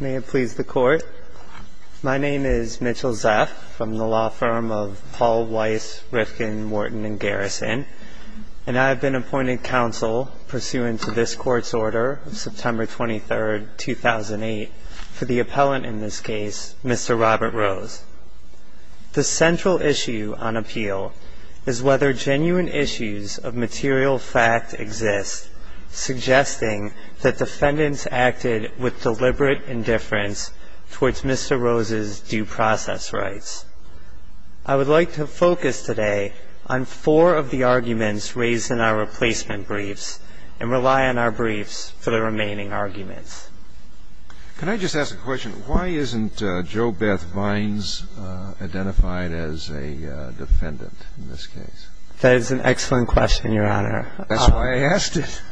May it please the Court. My name is Mitchell Zeff from the law firm of Paul Weiss, Rifkin, Wharton & Garrison, and I have been appointed counsel pursuant to this Court's order of September 23, 2008, for the appellant in this case, Mr. Robert Rose. The central issue on appeal is whether genuine issues of material fact exist, suggesting that defendants acted with deliberate indifference towards Mr. Rose's due process rights. I would like to focus today on four of the arguments raised in our replacement briefs and rely on our briefs for the remaining arguments. Mr. Rose, please. Can I just ask a question? Why isn't Jo Beth Vines identified as a defendant in this case? That is an excellent question, Your Honor. That's why I asked it.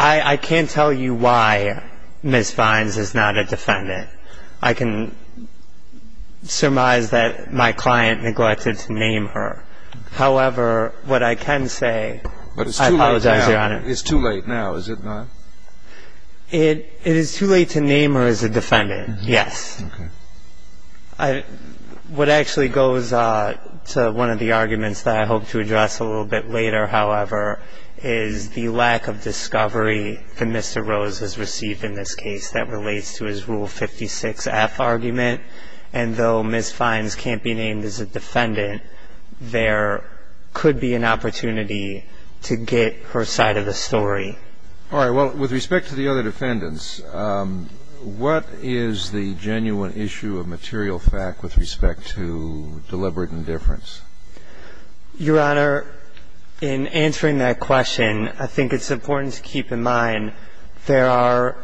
I can't tell you why Ms. Vines is not a defendant. I can surmise that my client neglected to name her. However, what I can say But it's too late now. I apologize, Your Honor. It's too late now, is it not? It is too late to name her as a defendant, yes. Okay. What actually goes to one of the arguments that I hope to address a little bit later, however, is the lack of discovery that Mr. Rose has received in this case that relates to his Rule 56F argument. And though Ms. Vines can't be named as a defendant, there could be an opportunity to get her side of the story. All right. Well, with respect to the other defendants, what is the genuine issue of material fact with respect to deliberate indifference? Your Honor, in answering that question, I think it's important to keep in mind there are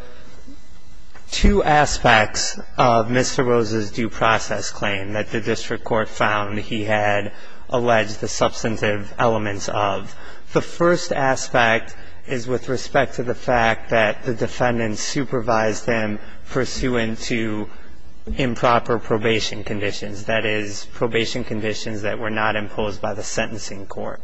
two aspects of Mr. Rose's due process claim that the district court found he had alleged the substantive elements of. The first aspect is with respect to the fact that the defendant supervised them pursuant to improper probation conditions, that is, probation conditions that were not imposed by the sentencing court.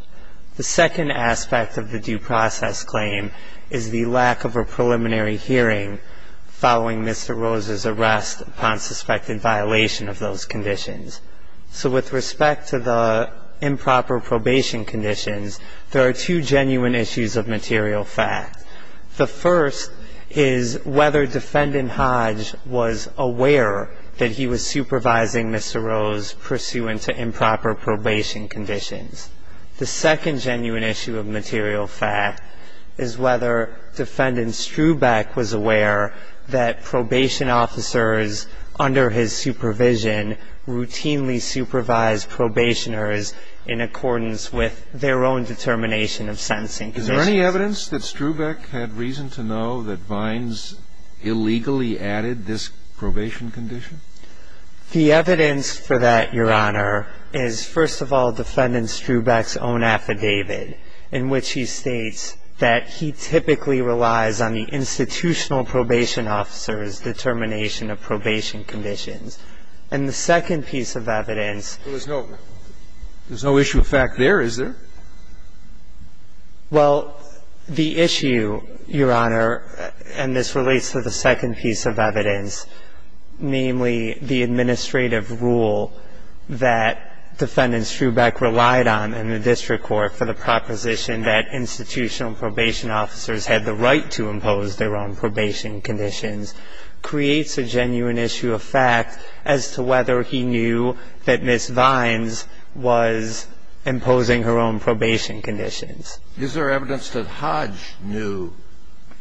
The second aspect of the due process claim is the lack of a preliminary hearing following Mr. Rose's arrest upon suspected violation of those conditions. So with respect to the improper probation conditions, there are two genuine issues of material fact. The first is whether Defendant Hodge was aware that he was supervising Mr. Rose pursuant to improper probation conditions. The second genuine issue of material fact is whether Defendant Strubeck was aware that probation officers under his supervision routinely supervised probationers in accordance with their own determination of sentencing conditions. Is there any evidence that Strubeck had reason to know that Vines illegally added this probation condition? The evidence for that, Your Honor, is, first of all, Defendant Strubeck's own affidavit, in which he states that he typically relies on the institutional probation officer's determination of probation conditions. And the second piece of evidence ---- There's no issue of fact there, is there? Well, the issue, Your Honor, and this relates to the second piece of evidence, namely the administrative rule that Defendant Strubeck relied on in the district court for the proposition that institutional probation officers had the right to impose their own probation conditions, creates a genuine issue of fact as to whether he knew that Ms. Vines was imposing her own probation conditions. Is there evidence that Hodge knew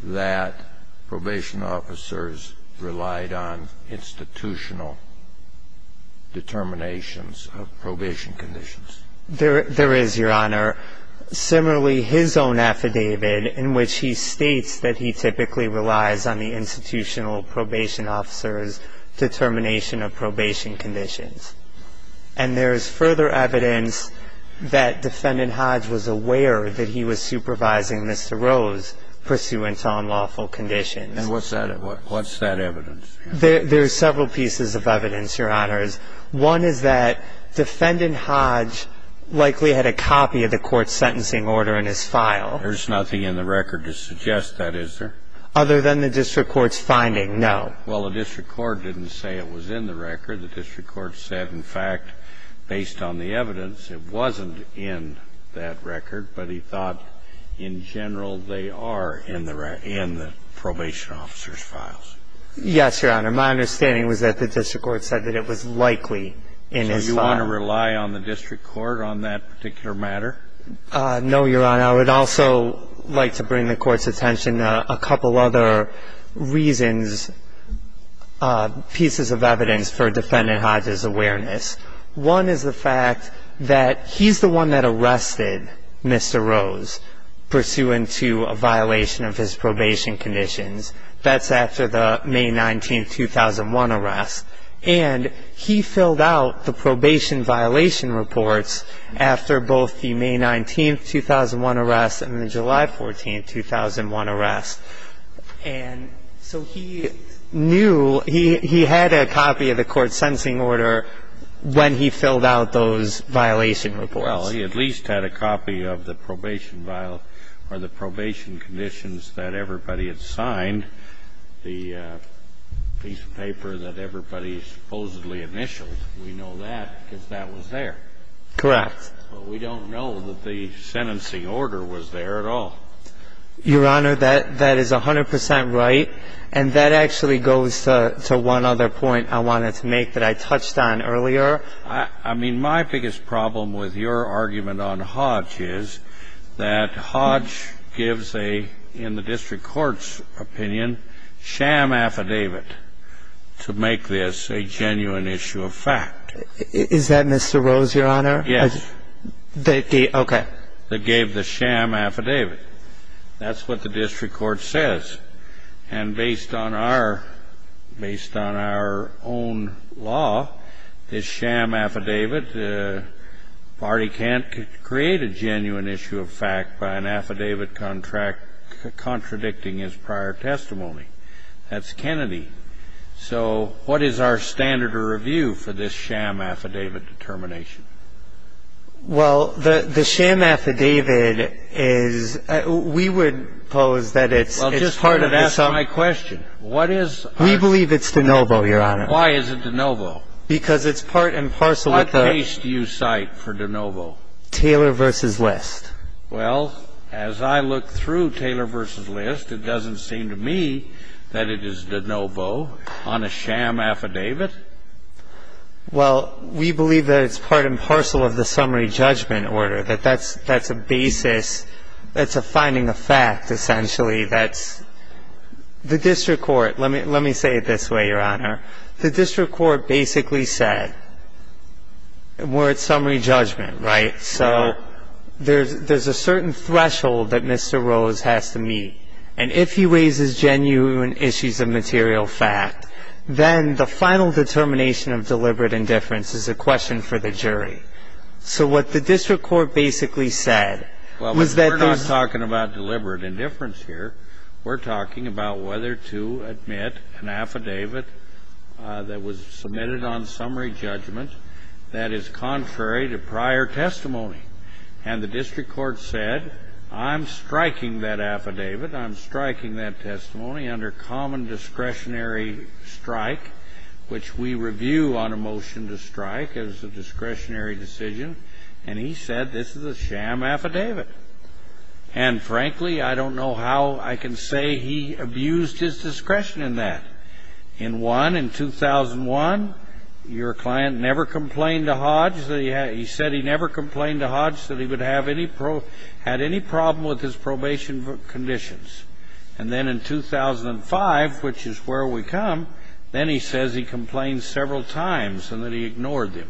that probation officers relied on institutional determinations of probation conditions? There is, Your Honor. Similarly, his own affidavit, in which he states that he typically relies on the institutional probation officer's determination of probation conditions. And there is further evidence that Defendant Hodge was aware that he was supervising Mr. Rose pursuant to unlawful conditions. And what's that evidence? There are several pieces of evidence, Your Honors. One is that Defendant Hodge likely had a copy of the court's sentencing order in his file. There's nothing in the record to suggest that, is there? Other than the district court's finding, no. Well, the district court didn't say it was in the record. The district court said, in fact, based on the evidence, it wasn't in that record, but he thought in general they are in the probation officer's files. Yes, Your Honor. My understanding was that the district court said that it was likely in his file. So you want to rely on the district court on that particular matter? No, Your Honor. I would also like to bring the court's attention to a couple other reasons, pieces of evidence for Defendant Hodge's awareness. One is the fact that he's the one that arrested Mr. Rose pursuant to a violation of his probation conditions. That's after the May 19, 2001 arrest. And he filled out the probation violation reports after both the May 19, 2001 arrest and the July 14, 2001 arrest. And so he knew he had a copy of the court's sentencing order when he filled out those violation reports. Well, he at least had a copy of the probation conditions that everybody had signed, the piece of paper that everybody supposedly initialed. We know that because that was there. Correct. But we don't know that the sentencing order was there at all. Your Honor, that is 100 percent right. And that actually goes to one other point I wanted to make that I touched on earlier. I mean, my biggest problem with your argument on Hodge is that Hodge gives a, in the district court's opinion, sham affidavit to make this a genuine issue of fact. Is that Mr. Rose, Your Honor? Yes. Okay. That gave the sham affidavit. That's what the district court says. And based on our own law, this sham affidavit, the party can't create a genuine issue of fact by an affidavit contradicting his prior testimony. That's Kennedy. So what is our standard of review for this sham affidavit determination? Well, the sham affidavit is we would pose that it's part of this. Well, just ask my question. We believe it's de novo, Your Honor. Why is it de novo? Because it's part and parcel of the. What case do you cite for de novo? Taylor v. List. Well, as I look through Taylor v. List, it doesn't seem to me that it is de novo on a sham affidavit. Well, we believe that it's part and parcel of the summary judgment order, that that's a basis. That's a finding of fact, essentially. That's the district court. Let me say it this way, Your Honor. The district court basically said we're at summary judgment, right? So there's a certain threshold that Mr. Rose has to meet. And if he raises genuine issues of material fact, then the final determination of deliberate indifference is a question for the jury. So what the district court basically said was that there's. Well, we're not talking about deliberate indifference here. We're talking about whether to admit an affidavit that was submitted on summary judgment that is contrary to prior testimony. And the district court said, I'm striking that affidavit. I'm striking that testimony under common discretionary strike, which we review on a motion to strike as a discretionary decision. And he said this is a sham affidavit. And frankly, I don't know how I can say he abused his discretion in that. In 2001, your client never complained to Hodge. He said he never complained to Hodge that he had any problem with his probation conditions. And then in 2005, which is where we come, then he says he complained several times and that he ignored them.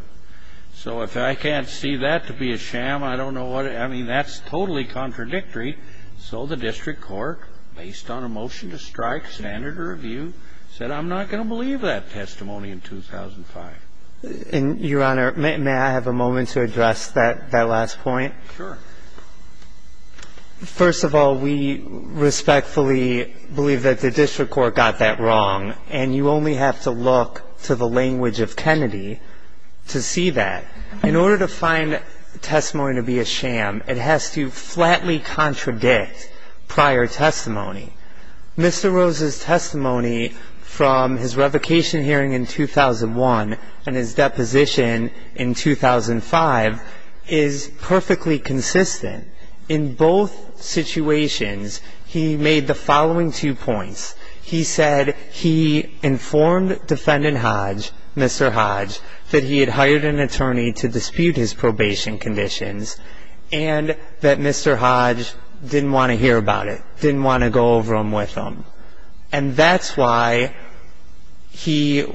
So if I can't see that to be a sham, I don't know what. I mean, that's totally contradictory. So the district court, based on a motion to strike, standard review, said I'm not going to believe that testimony in 2005. And, Your Honor, may I have a moment to address that last point? Sure. First of all, we respectfully believe that the district court got that wrong. And you only have to look to the language of Kennedy to see that. In order to find testimony to be a sham, it has to flatly contradict prior testimony. Mr. Rose's testimony from his revocation hearing in 2001 and his deposition in 2005 is perfectly consistent. In both situations, he made the following two points. He said he informed Defendant Hodge, Mr. Hodge, that he had hired an attorney to dispute his probation conditions and that Mr. Hodge didn't want to hear about it, didn't want to go over them with him. And that's why he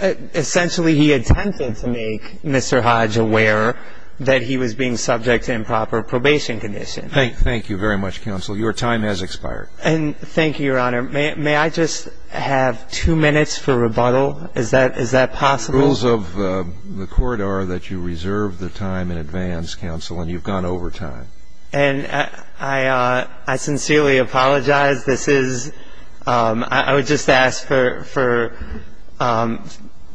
essentially he attempted to make Mr. Hodge aware that he was being subject to improper probation conditions. Thank you very much, counsel. Your time has expired. And thank you, Your Honor. May I just have two minutes for rebuttal? Is that possible? The rules of the court are that you reserve the time in advance, counsel, and you've gone over time. And I sincerely apologize. This is ‑‑ I would just ask for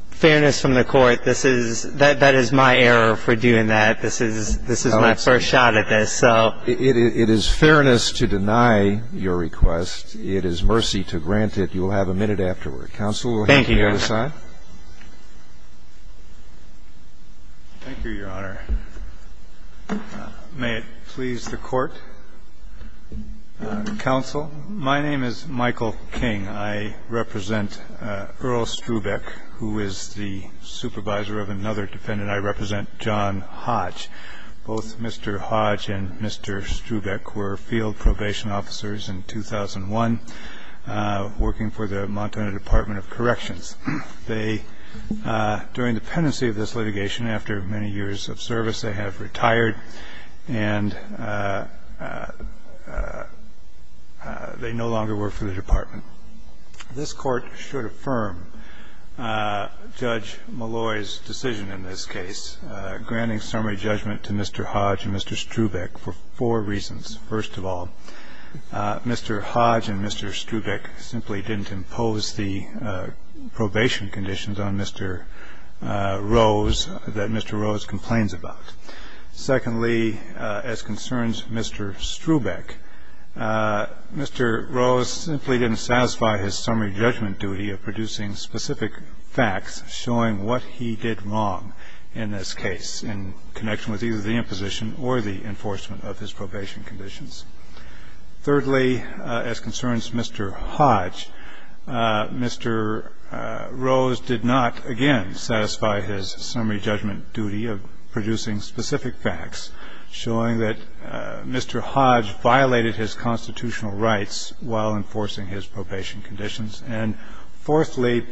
fairness from the court. This is ‑‑ that is my error for doing that. This is my first shot at this. It is fairness to deny your request. It is mercy to grant it. You will have a minute afterward. Counsel, we'll have you on the other side. Thank you, Your Honor. Thank you, Your Honor. May it please the Court. Counsel, my name is Michael King. I represent Earl Strubeck, who is the supervisor of another defendant. I represent John Hodge. Both Mr. Hodge and Mr. Strubeck were field probation officers in 2001, working for the Montana Department of Corrections. They, during the pendency of this litigation, after many years of service, they have retired, and they no longer work for the department. This Court should affirm Judge Malloy's decision in this case, granting summary judgment to Mr. Hodge and Mr. Strubeck for four reasons. First of all, Mr. Hodge and Mr. Strubeck simply didn't impose the probation conditions on Mr. Rose, that Mr. Rose complains about. Secondly, as concerns Mr. Strubeck, Mr. Rose simply didn't satisfy his summary judgment duty of producing specific facts showing what he did wrong in this case in connection with either the imposition or the enforcement of his probation conditions. Thirdly, as concerns Mr. Hodge, Mr. Rose did not, again, satisfy his summary judgment duty of producing specific facts, showing that Mr. Hodge violated his constitutional rights while enforcing his probation conditions. And fourthly,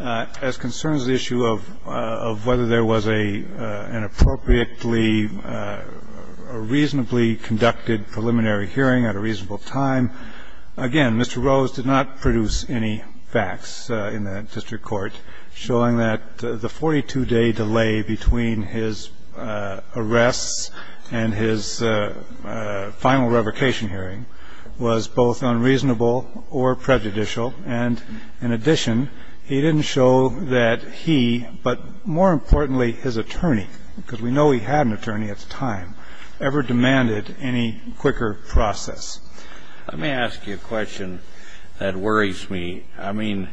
as concerns the issue of whether there was an appropriately or reasonably conducted preliminary hearing at a reasonable time, again, Mr. Rose did not produce any facts in that district court showing that the 42-day delay between his arrests and his final revocation hearing was both unreasonable or prejudicial. And in addition, he didn't show that he, but more importantly his attorney, because we know he had an attorney at the time, ever demanded any quicker process. Let me ask you a question that worries me. I mean,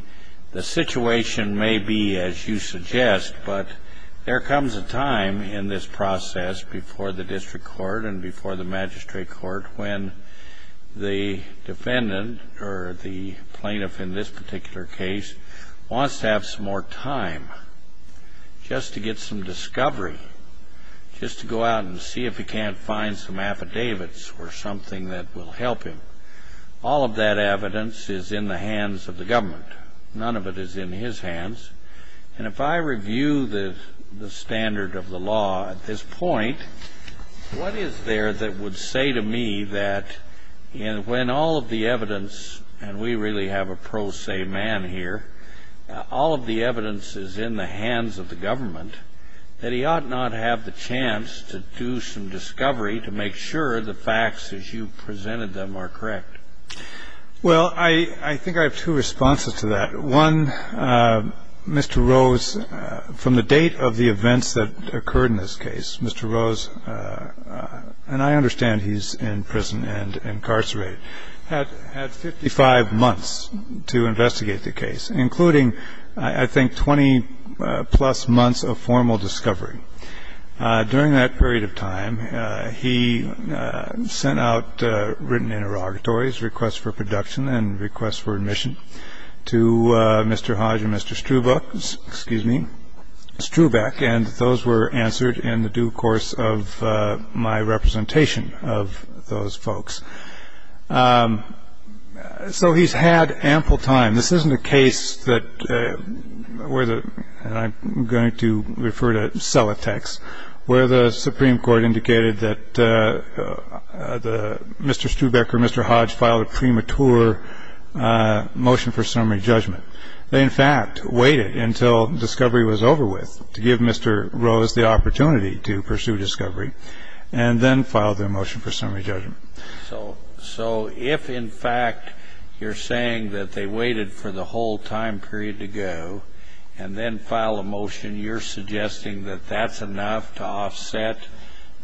the situation may be as you suggest, but there comes a time in this process before the district court and before the magistrate court when the defendant or the plaintiff in this particular case wants to have some more time just to get some discovery, just to go out and see if he can't find some affidavits or something that will help him. All of that evidence is in the hands of the government. None of it is in his hands. And if I review the standard of the law at this point, what is there that would say to me that when all of the evidence, and we really have a pro se man here, all of the evidence is in the hands of the government, that he ought not have the chance to do some discovery to make sure the facts as you presented them are correct? Well, I think I have two responses to that. One, Mr. Rose, from the date of the events that occurred in this case, Mr. Rose, and I understand he's in prison and incarcerated, had 55 months to investigate the case, including, I think, 20 plus months of formal discovery. During that period of time, he sent out written interrogatories, requests for production and requests for admission to Mr. Hodge and Mr. Strubeck, and those were answered in the due course of my representation of those folks. So he's had ample time. This isn't a case that, and I'm going to refer to Sellotex, where the Supreme Court indicated that Mr. Strubeck or Mr. Hodge filed a premature motion for summary judgment. They, in fact, waited until discovery was over with to give Mr. Rose the opportunity to pursue discovery and then filed their motion for summary judgment. So if, in fact, you're saying that they waited for the whole time period to go and then filed a motion, you're suggesting that that's enough to offset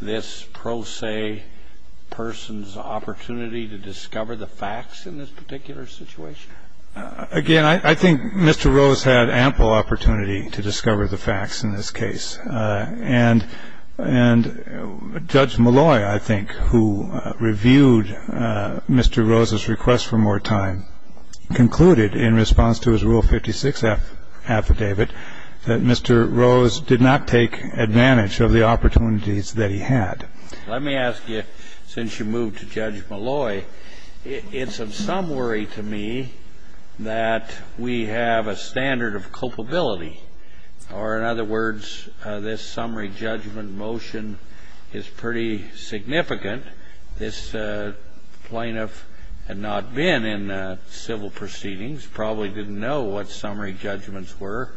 this pro se person's opportunity to discover the facts in this particular situation? Again, I think Mr. Rose had ample opportunity to discover the facts in this case. And Judge Malloy, I think, who reviewed Mr. Rose's request for more time, concluded in response to his Rule 56 affidavit that Mr. Rose did not take advantage of the opportunities that he had. Let me ask you, since you moved to Judge Malloy, it's of some worry to me that we have a standard of culpability. Or, in other words, this summary judgment motion is pretty significant. This plaintiff had not been in civil proceedings, probably didn't know what summary judgments were.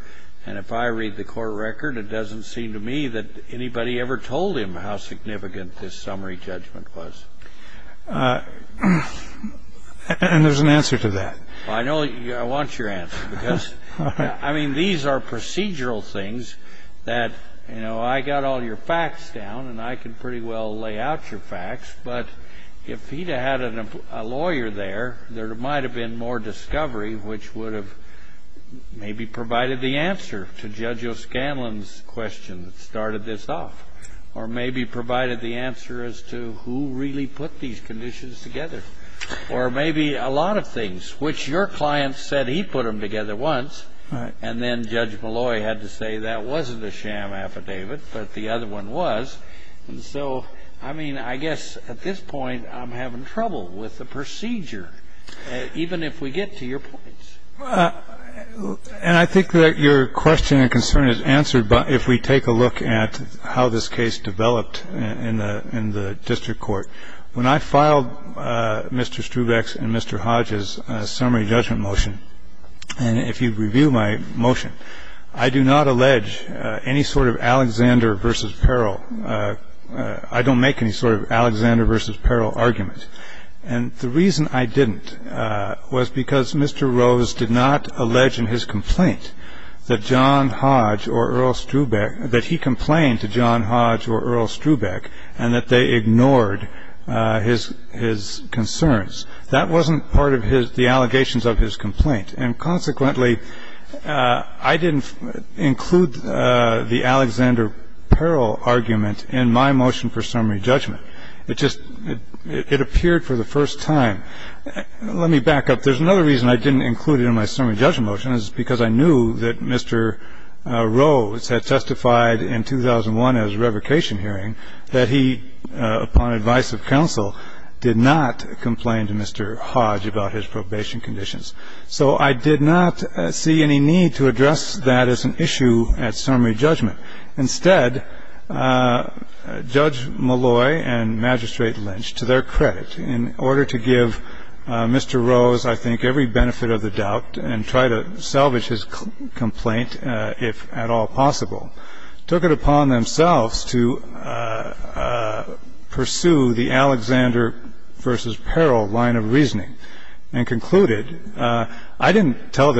And if I read the court record, it doesn't seem to me that anybody ever told him how significant this summary judgment was. And there's an answer to that. I know. I want your answer because, I mean, these are procedural things that, you know, I got all your facts down and I can pretty well lay out your facts. But if he'd have had a lawyer there, there might have been more discovery, which would have maybe provided the answer to Judge O'Scanlan's question that started this off. Or maybe provided the answer as to who really put these conditions together. Or maybe a lot of things, which your client said he put them together once. And then Judge Malloy had to say that wasn't a sham affidavit, but the other one was. And so, I mean, I guess at this point I'm having trouble with the procedure, even if we get to your points. And I think that your question and concern is answered if we take a look at how this case developed in the district court. When I filed Mr. Strubeck's and Mr. Hodge's summary judgment motion, and if you review my motion, I do not allege any sort of Alexander v. Peril. I don't make any sort of Alexander v. Peril argument. And the reason I didn't was because Mr. Rose did not allege in his complaint that John Hodge or Earl Strubeck, that he complained to John Hodge or Earl Strubeck, and that they ignored his concerns. That wasn't part of the allegations of his complaint. And consequently, I didn't include the Alexander Peril argument in my motion for summary judgment. It just – it appeared for the first time. Let me back up. There's another reason I didn't include it in my summary judgment motion, and it's because I knew that Mr. Rose had testified in 2001 at his revocation hearing that he, upon advice of counsel, did not complain to Mr. Hodge about his probation conditions. So I did not see any need to address that as an issue at summary judgment. Instead, Judge Malloy and Magistrate Lynch, to their credit, in order to give Mr. Rose, I think, every benefit of the doubt and try to salvage his complaint, if at all possible, took it upon themselves to pursue the Alexander v. Peril line of reasoning and concluded – I didn't tell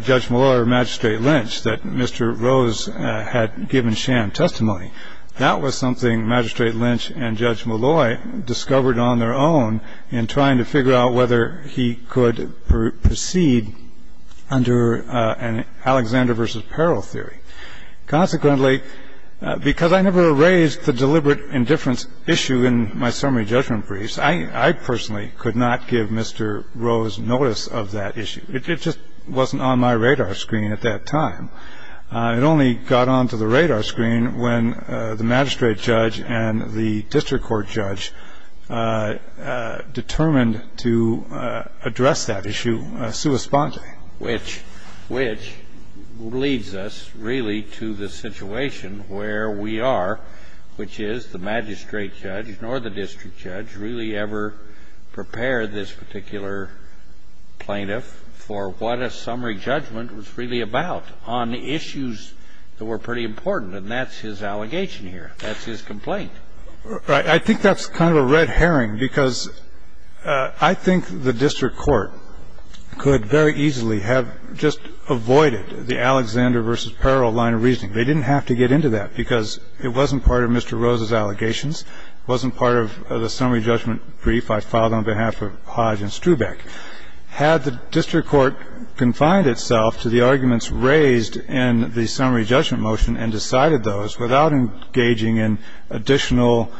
Judge Malloy or Magistrate Lynch that Mr. Rose had given sham testimony. That was something Magistrate Lynch and Judge Malloy discovered on their own in trying to figure out whether he could proceed under an Alexander v. Peril theory. Consequently, because I never raised the deliberate indifference issue in my summary judgment briefs, I personally could not give Mr. Rose notice of that issue. It just wasn't on my radar screen at that time. It only got onto the radar screen when the magistrate judge and the district court judge determined to address that issue sui sponte. Which leads us, really, to the situation where we are, which is the magistrate judge nor the district judge really ever prepared this particular plaintiff for what a summary judgment was really about on issues that were pretty important. And that's his allegation here. That's his complaint. Right. I think that's kind of a red herring because I think the district court could very easily have just avoided the Alexander v. Peril line of reasoning. They didn't have to get into that because it wasn't part of Mr. Rose's allegations. It wasn't part of the summary judgment brief I filed on behalf of Hodge and Strubeck. Had the district court confined itself to the arguments raised in the summary judgment motion and decided those without engaging in additional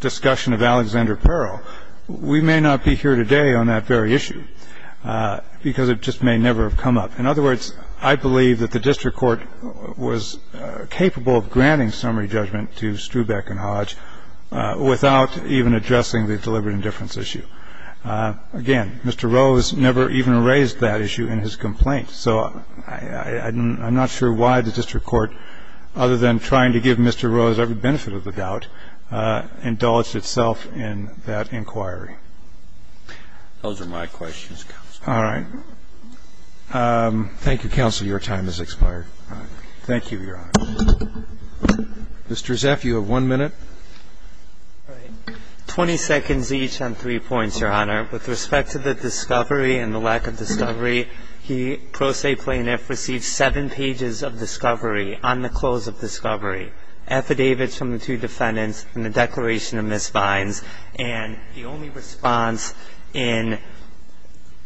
discussion of Alexander Peril, we may not be here today on that very issue because it just may never have come up. In other words, I believe that the district court was capable of granting summary judgment to Strubeck and Hodge without even addressing the deliberate indifference issue. Again, Mr. Rose never even raised that issue in his complaint. So I'm not sure why the district court, other than trying to give Mr. Rose every benefit of the doubt, indulged itself in that inquiry. Those are my questions, Counsel. All right. Thank you, Counsel. Your time has expired. Thank you, Your Honor. Mr. Zeff, you have one minute. All right. Twenty seconds each on three points, Your Honor. With respect to the discovery and the lack of discovery, the pro se plaintiff received seven pages of discovery on the close of discovery, affidavits from the two defendants and the declaration of misbinds, and the only response in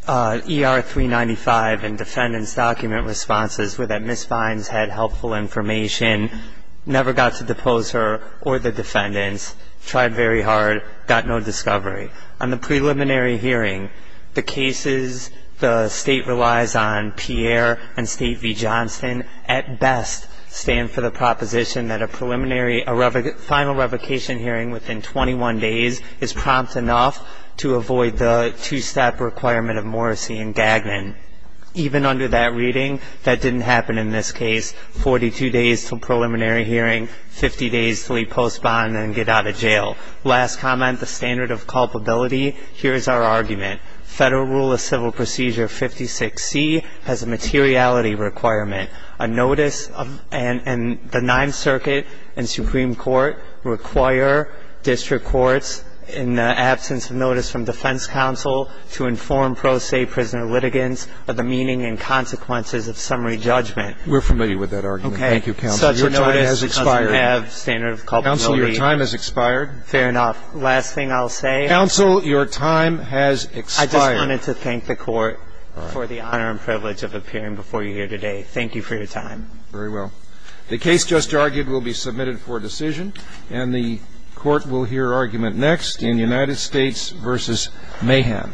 ER 395 and defendant's document responses were that misbinds had helpful information, never got to depose her or the defendants, tried very hard, got no discovery. On the preliminary hearing, the cases the State relies on, Pierre and State v. Johnson, at best stand for the proposition that a preliminary final revocation hearing within 21 days is prompt enough to avoid the two-step requirement of Morrissey and Gagnon. Even under that reading, that didn't happen in this case, 42 days to preliminary hearing, 50 days to leave post bond and get out of jail. Last comment, the standard of culpability, here is our argument. Federal Rule of Civil Procedure 56C has a materiality requirement, a notice, and the Ninth Circuit and Supreme Court require district courts in the absence of notice from defense counsel to inform pro se prisoner litigants of the meaning and consequences of summary judgment. We're familiar with that argument. Thank you, counsel. Your time has expired. Counsel, your time has expired. Fair enough. Last thing I'll say. Counsel, your time has expired. I just wanted to thank the Court for the honor and privilege of appearing before you here today. Thank you for your time. Very well. The case just argued will be submitted for decision, and the Court will hear argument next in United States v. Mayhem. Thank you. Thank you.